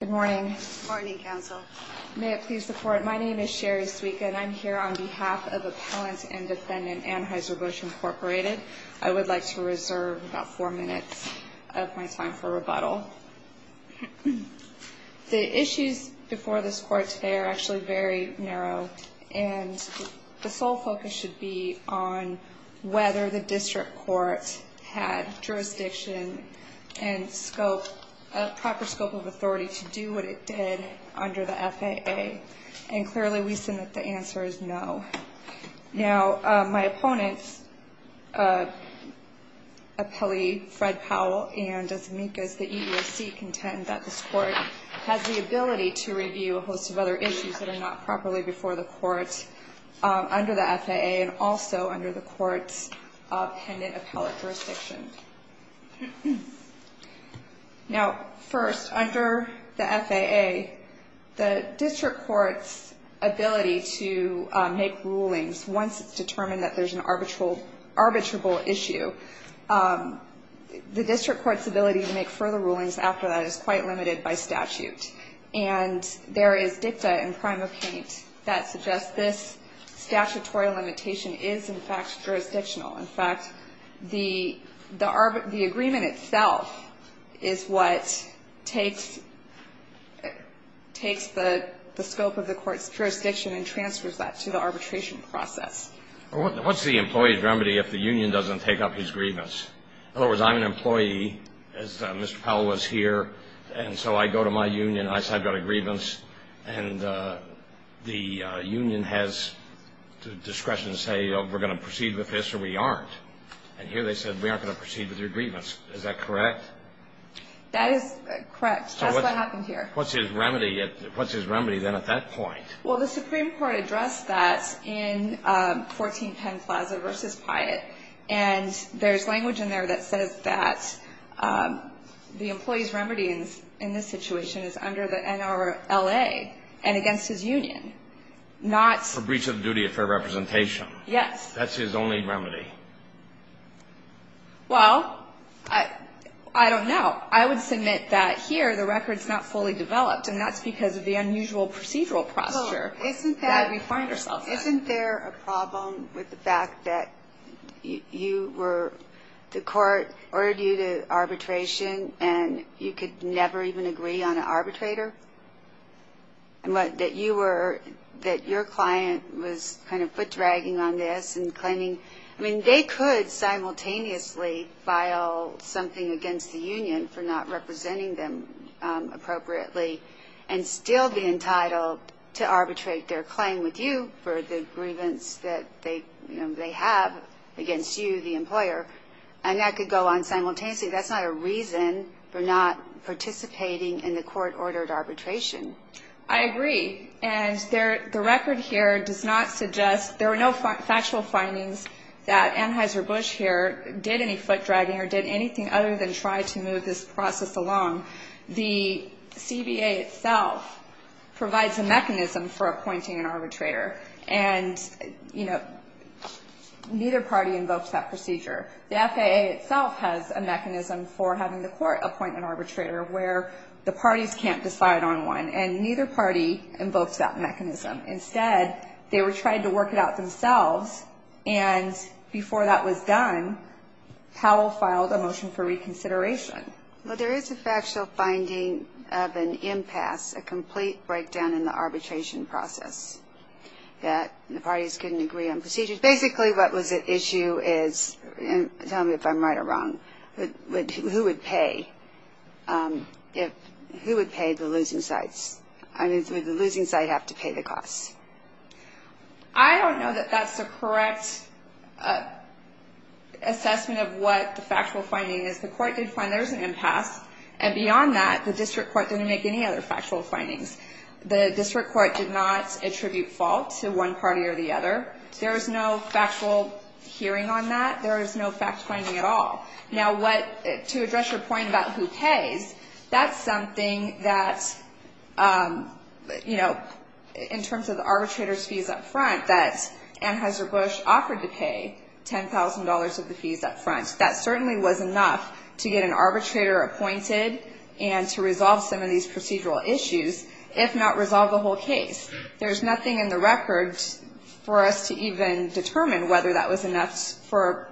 Good morning. Good morning, Counsel. May it please the Court, my name is Sherry Zwieka and I'm here on behalf of Appellant and Defendant Anheuser-Busch Incorporated. I would like to reserve about four minutes of my time for rebuttal. The issues before this Court today are actually very narrow and the sole focus should be on whether the District Court had jurisdiction and scope, proper scope of authority to do what it did under the FAA. And clearly we submit that the answer is no. Now, my opponents, appellee Fred Powell and as amicus the EEOC contend that this Court has the ability to review a host of other issues that are not properly before the Court under the FAA and also under the Court's appendant appellate jurisdiction. Now, first, under the FAA, the District Court's ability to make rulings once it's determined that there's an arbitrable issue, the District Court's ability to make further rulings after that is quite limited by statute. And there is dicta in Primocate that suggests this statutory limitation is, in fact, jurisdictional. In fact, the agreement itself is what takes the scope of the Court's jurisdiction and transfers that to the arbitration process. What's the employee's remedy if the union doesn't take up his grievance? In other words, I'm an employee, as Mr. Powell was here, and so I go to my union and I say I've got a grievance and the union has discretion to say we're going to proceed with this or we aren't. And here they said we aren't going to proceed with your grievance. Is that correct? That is correct. That's what happened here. What's his remedy then at that point? Well, the Supreme Court addressed that in 14 Penn Plaza v. Pyatt, and there's language in there that says that the employee's remedy in this situation is under the NRLA and against his union. For breach of duty of fair representation. Yes. That's his only remedy. Well, I don't know. I would submit that here the record's not fully developed, and that's because of the unusual procedural posture that we find ourselves in. Isn't there a problem with the fact that you were – the Court ordered you to arbitration and you could never even agree on an arbitrator? And that you were – that your client was kind of foot-dragging on this and claiming – I mean, they could simultaneously file something against the union for not representing them appropriately and still be entitled to arbitrate their claim with you for the grievance that they have against you, the employer. And that could go on simultaneously. That's not a reason for not participating in the Court-ordered arbitration. I agree. And the record here does not suggest – there were no factual findings that Anheuser-Busch here did any foot-dragging or did anything other than try to move this process along. The CBA itself provides a mechanism for appointing an arbitrator. And, you know, neither party invokes that procedure. The FAA itself has a mechanism for having the Court appoint an arbitrator where the parties can't decide on one, and neither party invokes that mechanism. Instead, they were trying to work it out themselves, and before that was done, Powell filed a motion for reconsideration. Well, there is a factual finding of an impasse, a complete breakdown in the arbitration process, that the parties couldn't agree on procedures. Basically, what was at issue is – and tell me if I'm right or wrong – who would pay if – who would pay the losing sides? I mean, would the losing side have to pay the costs? I don't know that that's the correct assessment of what the factual finding is. The Court did find there was an impasse, and beyond that, the district court didn't make any other factual findings. The district court did not attribute fault to one party or the other. There was no factual hearing on that. There was no fact finding at all. Now, what – to address your point about who pays, that's something that, you know, in terms of the arbitrator's fees up front, that Anheuser-Busch offered to pay $10,000 of the fees up front. That certainly was enough to get an arbitrator appointed and to resolve some of these procedural issues, if not resolve the whole case. There's nothing in the record for us to even determine whether that was enough for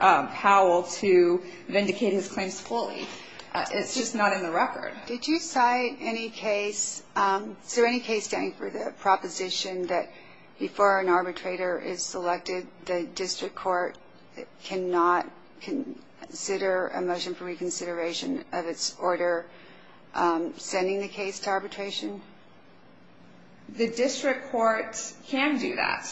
Powell to vindicate his claims fully. It's just not in the record. Did you cite any case – is there any case standing for the proposition that before an arbitrator is selected, the district court cannot consider a motion for reconsideration of its order sending the case to arbitration? The district court can do that.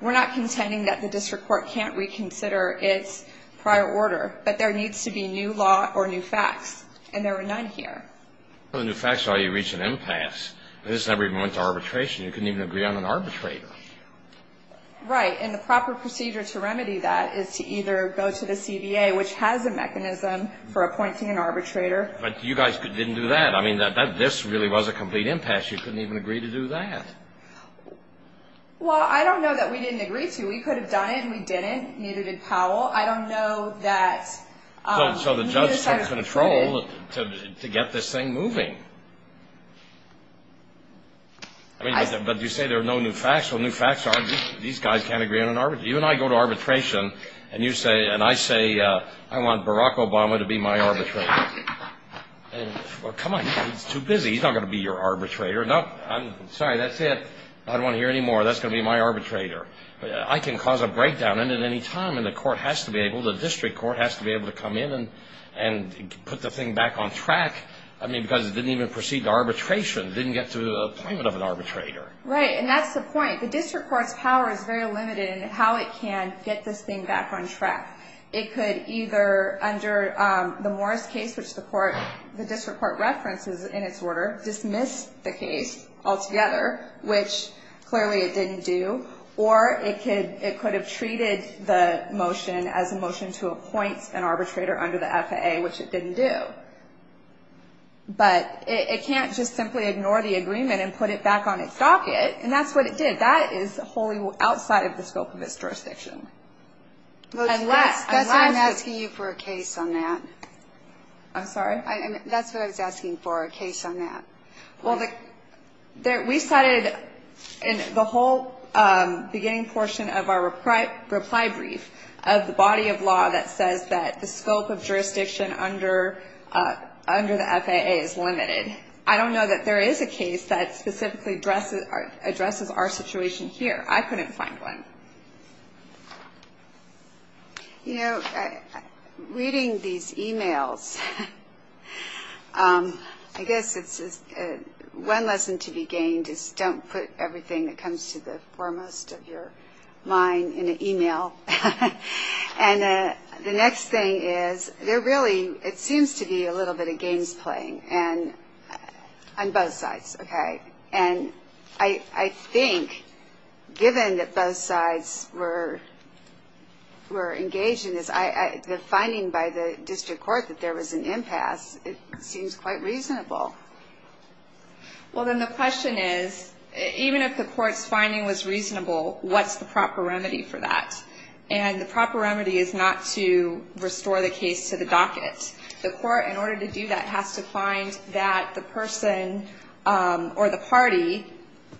We're not contending that the district court can't reconsider its prior order. But there needs to be new law or new facts, and there are none here. Well, the new facts are you reach an impasse. This never even went to arbitration. You couldn't even agree on an arbitrator. Right. And the proper procedure to remedy that is to either go to the CBA, which has a mechanism for appointing an arbitrator. But you guys didn't do that. I mean, this really was a complete impasse. You couldn't even agree to do that. Well, I don't know that we didn't agree to. We could have done it and we didn't, neither did Powell. I don't know that we decided to do it. So the judge took control to get this thing moving. But you say there are no new facts. Well, new facts are these guys can't agree on an arbitrator. You and I go to arbitration, and I say, I want Barack Obama to be my arbitrator. Well, come on. He's too busy. He's not going to be your arbitrator. No, I'm sorry. That's it. I don't want to hear any more. That's going to be my arbitrator. I can cause a breakdown in it any time, and the court has to be able to, the district court has to be able to come in and put the thing back on track. I mean, because it didn't even proceed to arbitration. It didn't get through the appointment of an arbitrator. Right, and that's the point. The district court's power is very limited in how it can get this thing back on track. It could either, under the Morris case, which the district court references in its order, dismiss the case altogether, which clearly it didn't do, or it could have treated the motion as a motion to appoint an arbitrator under the FAA, which it didn't do. But it can't just simply ignore the agreement and put it back on its docket, and that's what it did. That is wholly outside of the scope of its jurisdiction. That's why I'm asking you for a case on that. I'm sorry? That's what I was asking for, a case on that. Well, we cited in the whole beginning portion of our reply brief of the body of law that says that the scope of jurisdiction under the FAA is limited. I don't know that there is a case that specifically addresses our situation here. I couldn't find one. You know, reading these e-mails, I guess it's one lesson to be gained is don't put everything that comes to the foremost of your mind in an e-mail. And the next thing is there really, it seems to be a little bit of games playing on both sides, okay? And I think given that both sides were engaged in this, the finding by the district court that there was an impasse, it seems quite reasonable. Well, then the question is, even if the court's finding was reasonable, what's the proper remedy for that? And the proper remedy is not to restore the case to the docket. The court, in order to do that, has to find that the person or the party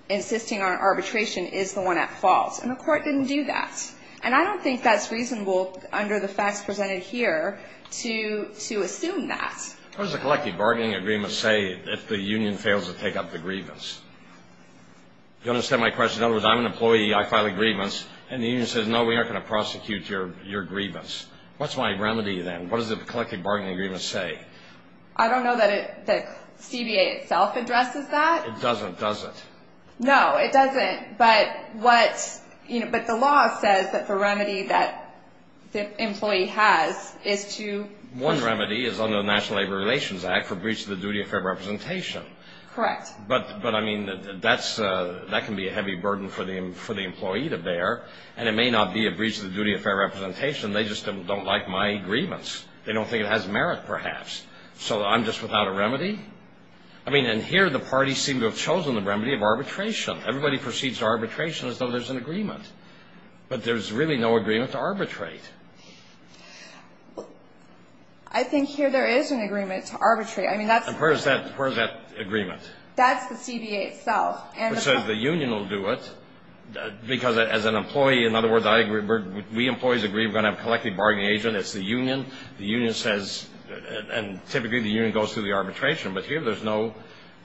insisting on arbitration is the one at fault. And the court didn't do that. And I don't think that's reasonable under the facts presented here to assume that. What does the collective bargaining agreement say if the union fails to take up the grievance? Do you understand my question? In other words, I'm an employee. I file a grievance. And the union says, no, we aren't going to prosecute your grievance. What's my remedy then? What does the collective bargaining agreement say? I don't know that the CBA itself addresses that. It doesn't, does it? No, it doesn't. But the law says that the remedy that the employee has is to... One remedy is under the National Labor Relations Act for breach of the duty of fair representation. Correct. But, I mean, that can be a heavy burden for the employee to bear. And it may not be a breach of the duty of fair representation. They just don't like my agreements. They don't think it has merit, perhaps. So I'm just without a remedy? I mean, and here the parties seem to have chosen the remedy of arbitration. Everybody proceeds to arbitration as though there's an agreement. But there's really no agreement to arbitrate. I think here there is an agreement to arbitrate. I mean, that's... And where is that agreement? That's the CBA itself. Which says the union will do it. Because as an employee, in other words, we employees agree we're going to have a collective bargaining agent. It's the union. The union says, and typically the union goes through the arbitration. But here there's no,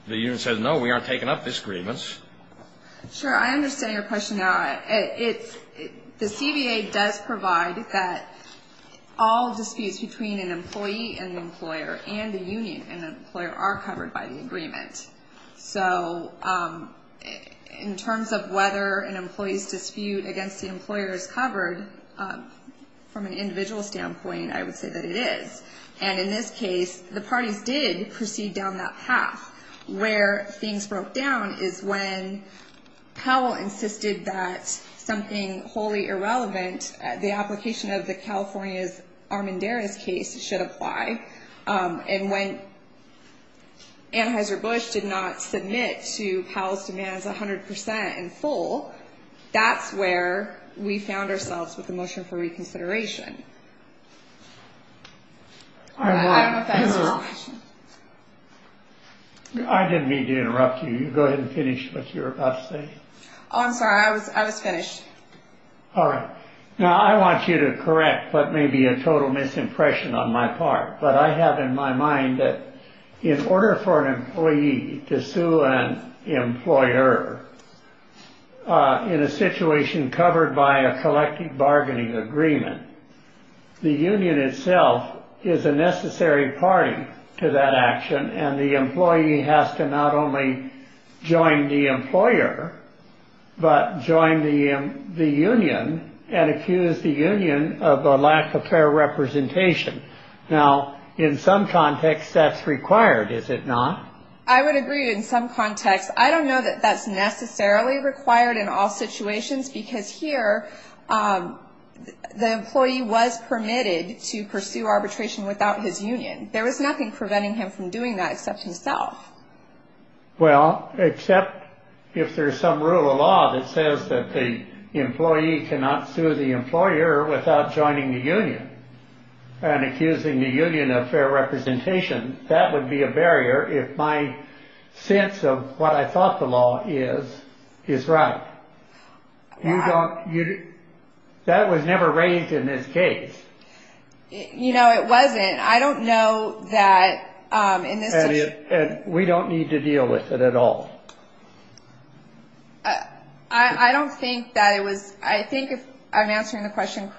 the union says, no, we aren't taking up this agreement. Sure, I understand your question now. The CBA does provide that all disputes between an employee and the employer and the union and the employer are covered by the agreement. So in terms of whether an employee's dispute against the employer is covered, from an individual standpoint, I would say that it is. And in this case, the parties did proceed down that path. Where things broke down is when Powell insisted that something wholly irrelevant, the application of the California's Armendariz case, should apply. And when Anheuser-Busch did not submit to Powell's demands 100% in full, that's where we found ourselves with the motion for reconsideration. I don't know if that answers your question. I didn't mean to interrupt you. You go ahead and finish what you were about to say. Oh, I'm sorry. I was finished. All right. Now, I want you to correct what may be a total misimpression on my part. But I have in my mind that in order for an employee to sue an employer in a situation covered by a collective bargaining agreement, the union itself is a necessary party to that action. And the employee has to not only join the employer, but join the union and accuse the union of a lack of fair representation. Now, in some context, that's required, is it not? I would agree in some context. I don't know that that's necessarily required in all situations, because here the employee was permitted to pursue arbitration without his union. There was nothing preventing him from doing that except himself. Well, except if there's some rule of law that says that the employee cannot sue the employer without joining the union and accusing the union of fair representation. That would be a barrier if my sense of what I thought the law is, is right. That was never raised in this case. You know, it wasn't. I don't know that in this situation. And we don't need to deal with it at all. I don't think that it was. I think I'm answering the question.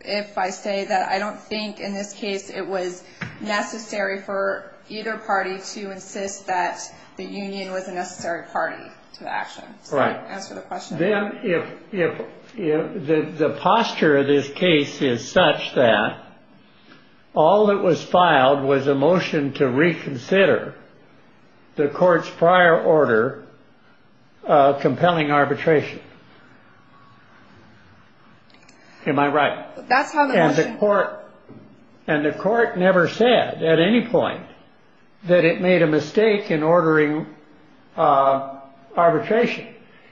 If I say that, I don't think in this case it was necessary for either party to insist that the union was a necessary party to the action. Then if the posture of this case is such that all that was filed was a motion to reconsider the court's prior order compelling arbitration. Am I right? That's how the court and the court never said at any point that it made a mistake in ordering arbitration.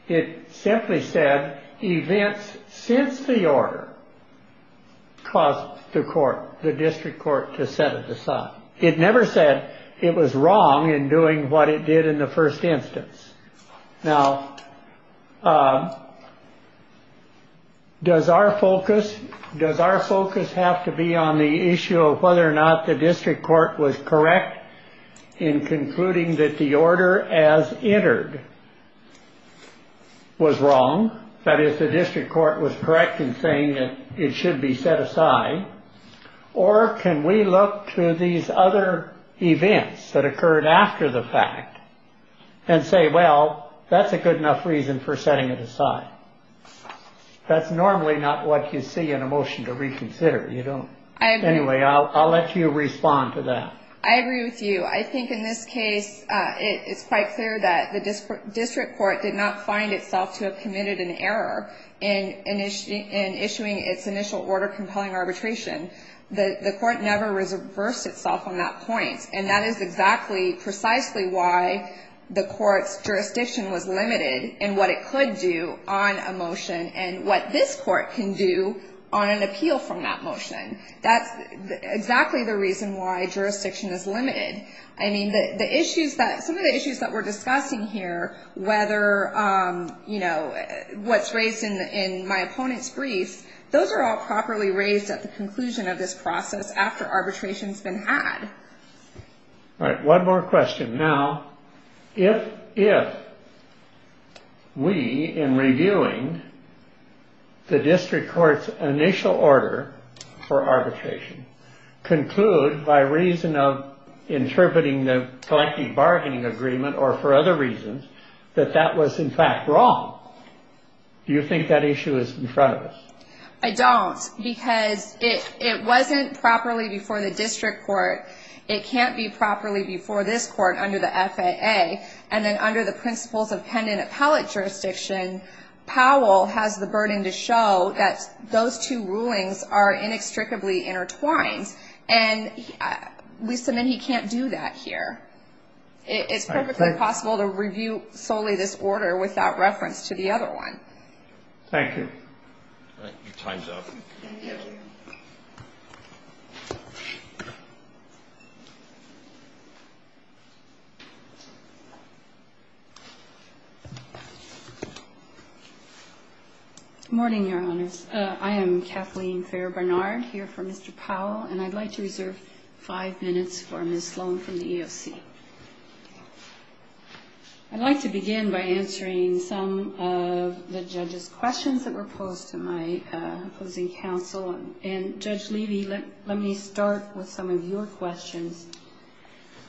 It simply said events since the order caused the court, the district court, to set it aside. It never said it was wrong in doing what it did in the first instance. Now. Does our focus. Does our focus have to be on the issue of whether or not the district court was correct in concluding that the order as entered. Was wrong. That is, the district court was correct in saying that it should be set aside. Or can we look to these other events that occurred after the fact and say, well, that's a good enough reason for setting it aside. That's normally not what you see in a motion to reconsider. You don't. Anyway, I'll let you respond to that. I agree with you. I think in this case, it's quite clear that the district court did not find itself to have committed an error in issuing its initial order compelling arbitration. The court never reversed itself on that point. And that is exactly, precisely why the court's jurisdiction was limited in what it could do on a motion and what this court can do on an appeal from that motion. That's exactly the reason why jurisdiction is limited. I mean, the issues that some of the issues that we're discussing here, whether, you know, what's raised in my opponent's briefs. Those are all properly raised at the conclusion of this process after arbitration has been had. All right. One more question. Now, if we in reviewing the district court's initial order for arbitration conclude by reason of interpreting the collective bargaining agreement or for other reasons that that was in fact wrong. Do you think that issue is in front of us? I don't. Because it wasn't properly before the district court. It can't be properly before this court under the FAA. And then under the principles of pen and appellate jurisdiction, Powell has the burden to show that those two rulings are inextricably intertwined. And we submit he can't do that here. It's perfectly possible to review solely this order without reference to the other one. Thank you. Your time's up. Thank you. Good morning, Your Honors. I am Kathleen Fair Barnard, here for Mr. Powell. And I'd like to reserve five minutes for Ms. Sloan from the EOC. I'd like to begin by answering some of the judges' questions that were posed to my opposing counsel. And, Judge Levy, let me start with some of your questions.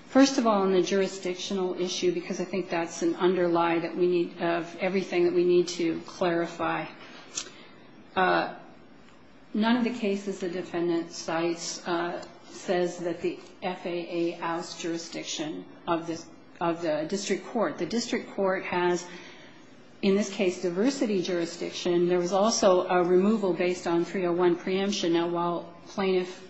First of all, on the jurisdictional issue, because I think that's an underlie of everything that we need to clarify. None of the cases the defendant cites says that the FAA has jurisdiction of the district court. The district court has, in this case, diversity jurisdiction. There was also a removal based on 301 preemption. Now, while Plaintiff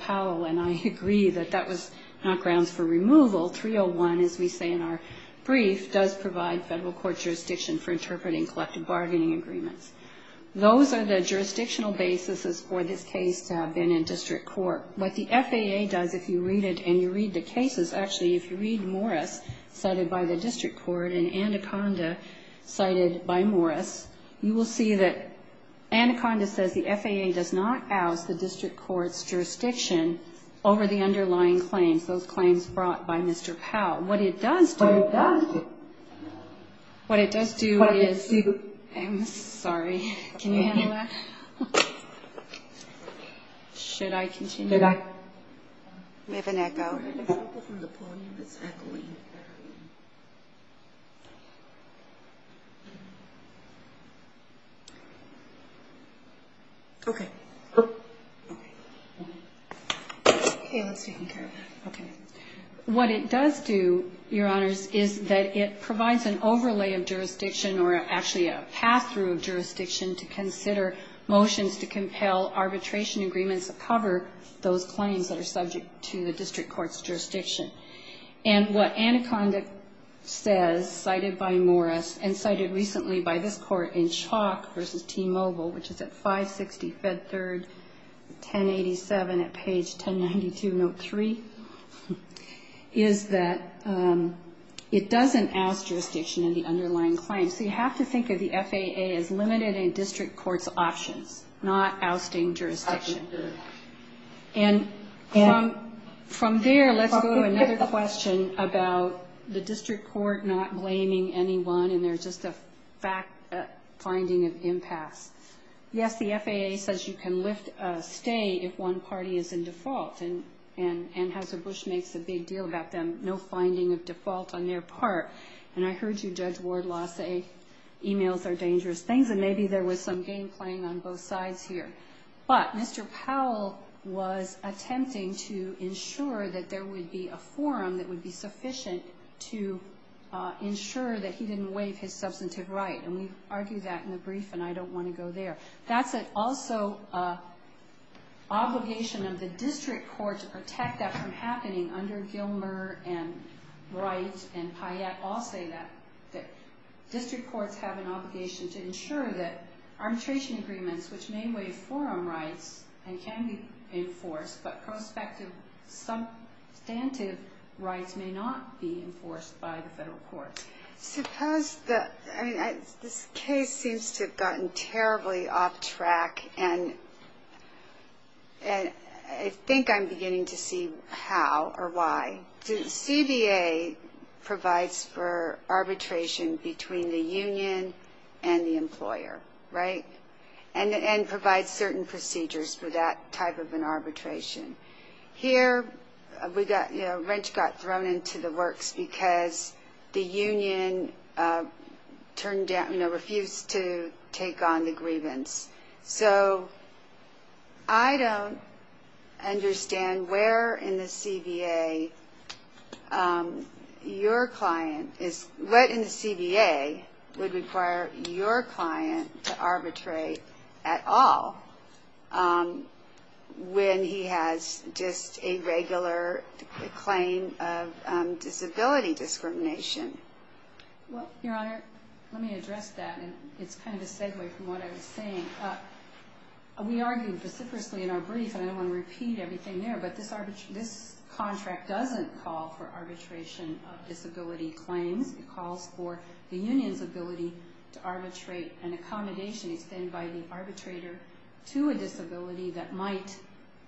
Powell and I agree that that was not grounds for removal, 301, as we say in our brief, does provide federal court jurisdiction for interpreting collective bargaining agreements. Those are the jurisdictional basis for this case to have been in district court. What the FAA does, if you read it and you read the cases, actually, if you read Morris cited by the district court and Anaconda cited by Morris, you will see that Anaconda says the FAA does not house the district court's jurisdiction over the underlying claims, those claims brought by Mr. Powell. What it does do is, I'm sorry, can you handle that? Should I continue? Did I? We have an echo. What it does do, Your Honors, is that it provides an overlay of jurisdiction, or actually a path through jurisdiction to consider motions to compel arbitration agreements that cover those claims that are subject to the district court's jurisdiction. And what Anaconda says, cited by Morris and cited recently by this Court in Chalk v. T-Mobile, which is at 560 Fed Third, 1087 at page 1092, note 3, is that it doesn't in the underlying claims. So you have to think of the FAA as limited in district court's options, not ousting jurisdiction. And from there, let's go to another question about the district court not blaming anyone and there's just a finding of impasse. Yes, the FAA says you can stay if one party is in default, and Houser Bush makes a big deal about them, but there's no finding of default on their part. And I heard you, Judge Wardlaw, say emails are dangerous things and maybe there was some game playing on both sides here. But Mr. Powell was attempting to ensure that there would be a forum that would be sufficient to ensure that he didn't waive his substantive right, and we've argued that in the brief and I don't want to go there. That's also an obligation of the district court to protect that from happening under Gilmer and Wright and Payette all say that district courts have an obligation to ensure that arbitration agreements, which may waive forum rights and can be enforced, but prospective substantive rights may not be enforced by the federal courts. Suppose the, I mean, this case seems to have gotten terribly off track and I think I'm beginning to see how or why. CBA provides for arbitration between the union and the employer, right, and provides certain procedures for that type of an arbitration. Here, we got, you know, Wrench got thrown into the works because the union turned down, you know, refused to take on the grievance. So I don't understand where in the CBA your client is, what in the CBA would require your client to arbitrate at all when he has just a regular claim of disability discrimination. Well, Your Honor, let me address that and it's kind of a segue from what I was saying. We argued vociferously in our brief and I don't want to repeat everything there, but this contract doesn't call for arbitration of disability claims. It calls for the union's ability to arbitrate an accommodation extended by the arbitrator to a disability that might,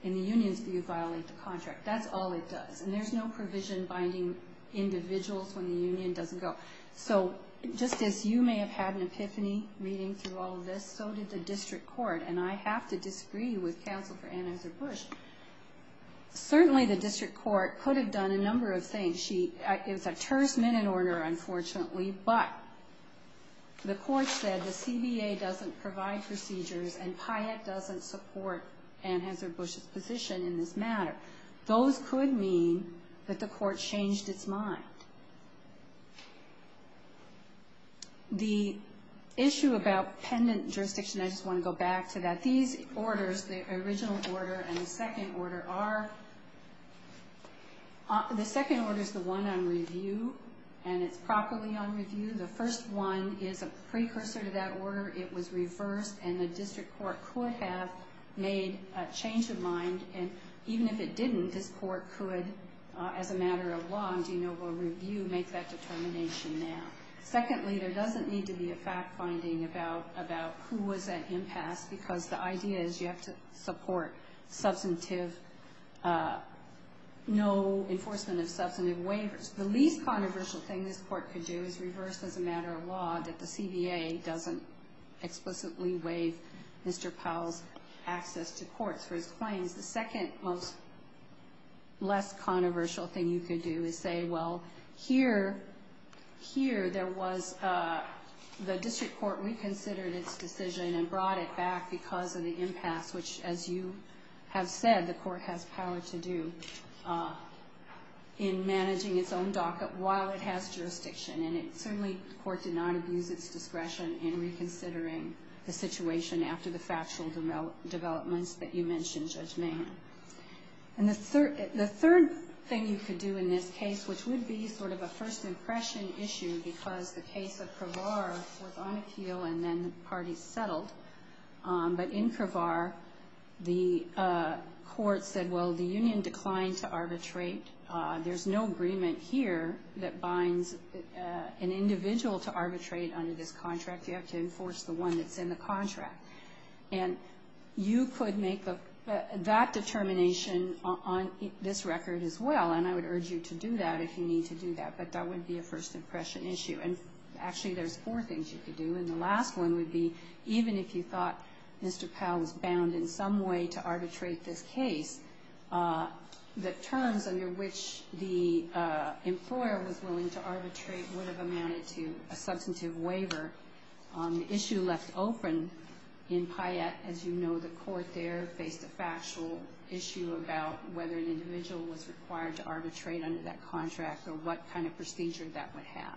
in the union's view, violate the contract. That's all it does. And there's no provision binding individuals when the union doesn't go. So just as you may have had an epiphany reading through all of this, so did the district court, and I have to disagree with Counsel for Anheuser-Busch. Certainly, the district court could have done a number of things. It was a terse minute order, unfortunately, but the court said the CBA doesn't provide procedures and Pyatt doesn't support Anheuser-Busch's position in this matter. Those could mean that the court changed its mind. The issue about pendant jurisdiction, I just want to go back to that. These orders, the original order and the second order, are... The second order is the one on review and it's properly on review. The first one is a precursor to that order. It was reversed and the district court could have made a change of mind and even if it didn't, this court could, as a matter of law and due noble review, make that determination now. Secondly, there doesn't need to be a fact-finding about who was at impasse because the idea is you have to support no enforcement of substantive waivers. The least controversial thing this court could do is reverse, as a matter of law, that the CBA doesn't explicitly waive Mr. Powell's access to courts for his claims. The second most less controversial thing you could do is say, well, here there was the district court reconsidered its decision and brought it back because of the impasse, which, as you have said, the court has power to do in managing its own docket while it has jurisdiction. And certainly the court did not abuse its discretion in reconsidering the situation after the factual developments that you mentioned, Judge Mahan. The third thing you could do in this case, which would be sort of a first impression issue, because the case of Cravar was on appeal and then the parties settled, but in Cravar the court said, well, the union declined to arbitrate. There's no agreement here that binds an individual to arbitrate under this contract. You have to enforce the one that's in the contract. And you could make that determination on this record as well, and I would urge you to do that if you need to do that. But that would be a first impression issue. And actually there's four things you could do, and the last one would be even if you thought Mr. Powell was bound in some way to arbitrate this case, the terms under which the employer was willing to arbitrate would have amounted to a substantive waiver. On the issue left open in Payette, as you know, the court there faced a factual issue about whether an individual was required to arbitrate under that contract or what kind of procedure that would have.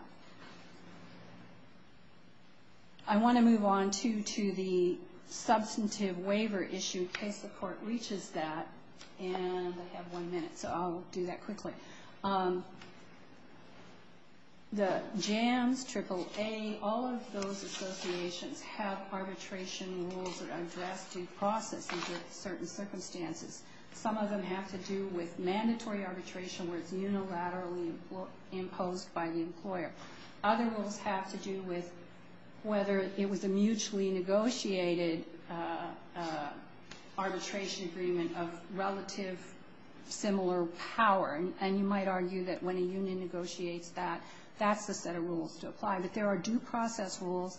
I want to move on, too, to the substantive waiver issue, in case the court reaches that, and I have one minute, so I'll do that quickly. The JAMS, AAA, all of those associations have arbitration rules that are addressed due process under certain circumstances. Some of them have to do with mandatory arbitration where it's unilaterally imposed by the employer. Other rules have to do with whether it was a mutually negotiated arbitration agreement of relative similar power, and you might argue that when a union negotiates that, that's the set of rules to apply. But there are due process rules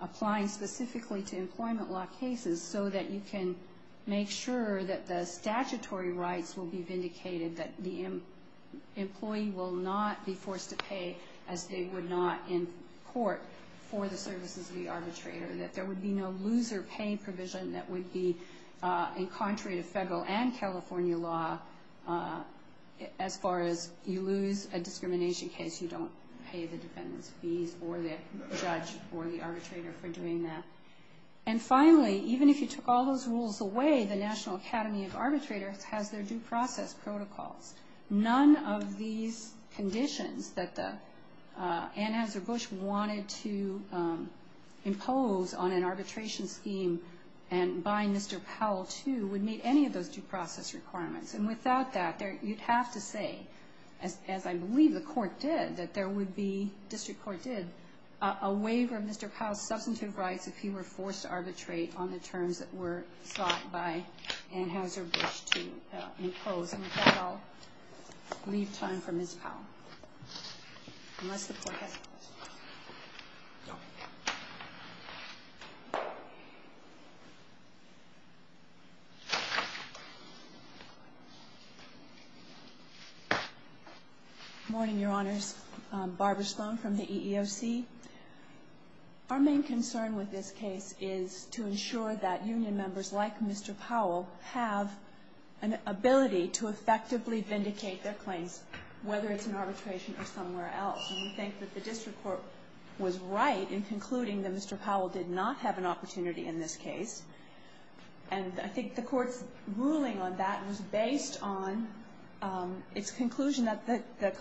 applying specifically to employment law cases so that you can make sure that the statutory rights will be vindicated, that the employee will not be forced to pay as they would not in court for the services of the arbitrator, that there would be no loser pay provision that would be, in contrary to federal and California law, as far as you lose a discrimination case, you don't pay the defendant's fees or the judge or the arbitrator for doing that. And finally, even if you took all those rules away, the National Academy of Arbitrators has their due process protocols. None of these conditions that the Ann Azar Bush wanted to impose on an arbitration scheme by Mr. Powell, too, would meet any of those due process requirements. And without that, you'd have to say, as I believe the court did, that there would be, a waiver of Mr. Powell's substantive rights if he were forced to arbitrate on the terms that were sought by Ann Azar Bush to impose. And with that, I'll leave time for Ms. Powell, unless the court has any questions. Go ahead. Good morning, Your Honors. Barbara Sloan from the EEOC. Our main concern with this case is to ensure that union members like Mr. Powell have an ability to effectively vindicate their claims, whether it's in arbitration or somewhere else. And we think that the district court was right in concluding that Mr. Powell did not have an opportunity in this case. And I think the court's ruling on that was based on its conclusion that there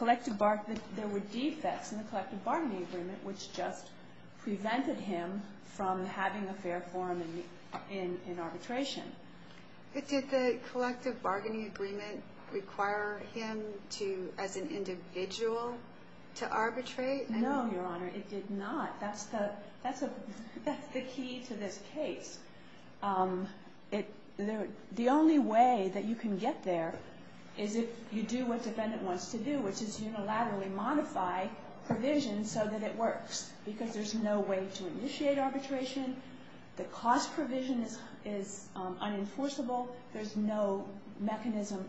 were defects in the collective bargaining agreement, which just prevented him from having a fair forum in arbitration. But did the collective bargaining agreement require him to, as an individual, to arbitrate? No, Your Honor, it did not. That's the key to this case. The only way that you can get there is if you do what the defendant wants to do, which is unilaterally modify provisions so that it works, because there's no way to initiate arbitration. The cost provision is unenforceable. There's no mechanism.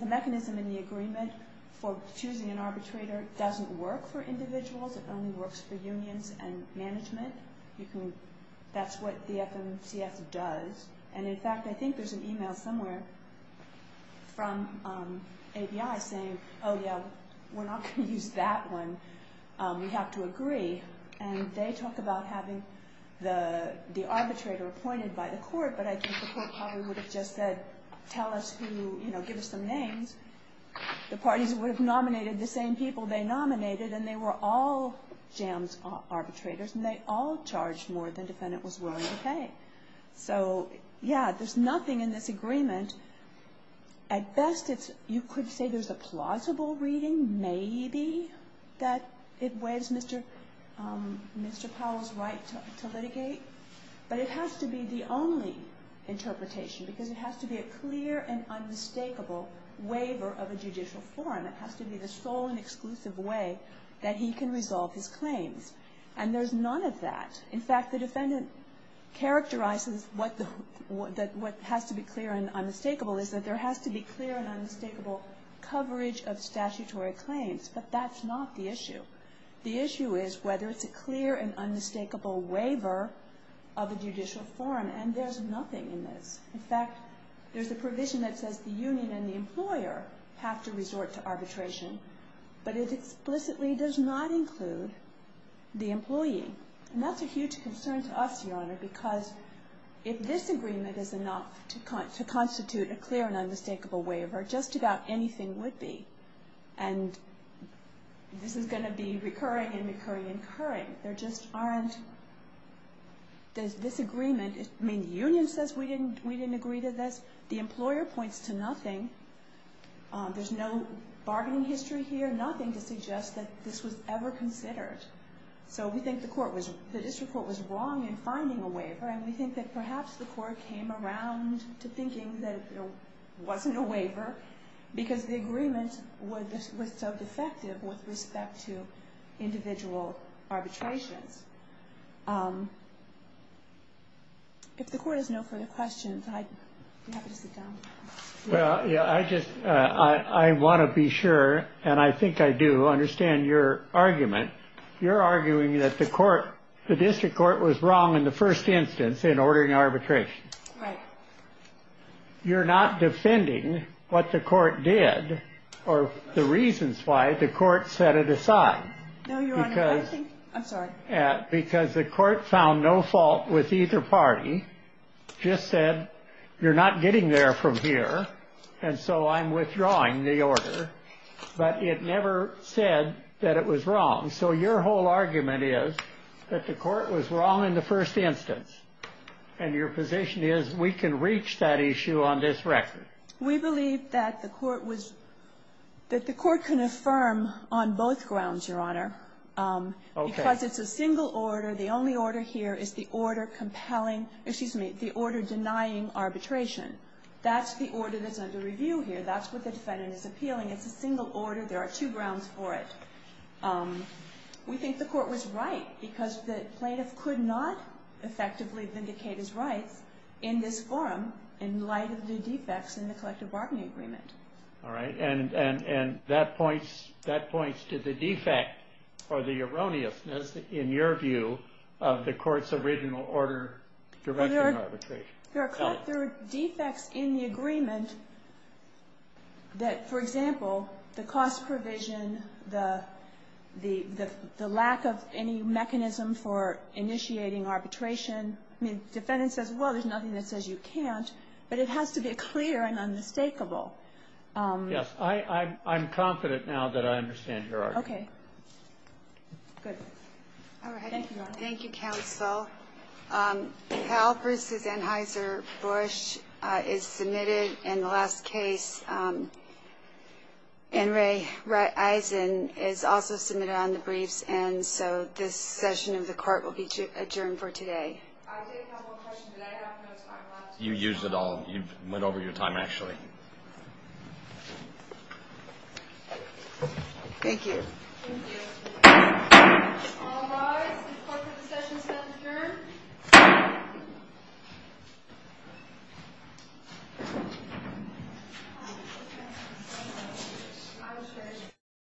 The mechanism in the agreement for choosing an arbitrator doesn't work for individuals. It only works for unions and management. That's what the FMCS does. And, in fact, I think there's an email somewhere from ABI saying, oh, yeah, we're not going to use that one. We have to agree. And they talk about having the arbitrator appointed by the court, but I think the court probably would have just said, tell us who, you know, give us some names. The parties would have nominated the same people they nominated, and they were all jams arbitrators, and they all charged more than the defendant was willing to pay. So, yeah, there's nothing in this agreement. At best, you could say there's a plausible reading, maybe, that it waives Mr. Powell's right to litigate. But it has to be the only interpretation, because it has to be a clear and unmistakable waiver of a judicial forum. It has to be the sole and exclusive way that he can resolve his claims. And there's none of that. In fact, the defendant characterizes what has to be clear and unmistakable, is that there has to be clear and unmistakable coverage of statutory claims. But that's not the issue. The issue is whether it's a clear and unmistakable waiver of a judicial forum. And there's nothing in this. In fact, there's a provision that says the union and the employer have to resort to arbitration, but it explicitly does not include the employee. And that's a huge concern to us, Your Honor, because if this agreement is enough to constitute a clear and unmistakable waiver, just about anything would be. And this is going to be recurring and recurring and recurring. There just aren't – this agreement – I mean, the union says we didn't agree to this. The employer points to nothing. There's no bargaining history here, nothing to suggest that this was ever considered. So we think the court was – the district court was wrong in finding a waiver, and we think that perhaps the court came around to thinking that there wasn't a waiver because the agreement was so defective with respect to individual arbitrations. If the court has no further questions, I'd be happy to sit down. Well, yeah, I just – I want to be sure, and I think I do, understand your argument. You're arguing that the court – the district court was wrong in the first instance in ordering arbitration. Right. You're not defending what the court did or the reasons why the court set it aside. No, Your Honor, I think – I'm sorry. Because the court found no fault with either party, just said you're not getting there from here, and so I'm withdrawing the order, but it never said that it was wrong. So your whole argument is that the court was wrong in the first instance, and your position is we can reach that issue on this record. We believe that the court was – that the court can affirm on both grounds, Your Honor. Okay. Because it's a single order. The only order here is the order compelling – excuse me, the order denying arbitration. That's the order that's under review here. That's what the defendant is appealing. It's a single order. There are two grounds for it. We think the court was right because the plaintiff could not effectively vindicate his rights in this forum in light of the defects in the collective bargaining agreement. All right. And that points to the defect or the erroneousness, in your view, of the court's original order directing arbitration. There are defects in the agreement that, for example, the cost provision, the lack of any mechanism for initiating arbitration. I mean, the defendant says, well, there's nothing that says you can't, but it has to be clear and unmistakable. Yes. I'm confident now that I understand your argument. Okay. Good. All right. Thank you, Your Honor. Thank you, counsel. Powell v. Anheuser-Busch is submitted in the last case. And Ray Eisen is also submitted on the briefs, and so this session of the court will be adjourned for today. I did have one question. You used it all. You went over your time, actually. Thank you. Thank you. All rise. The court for the session is adjourned.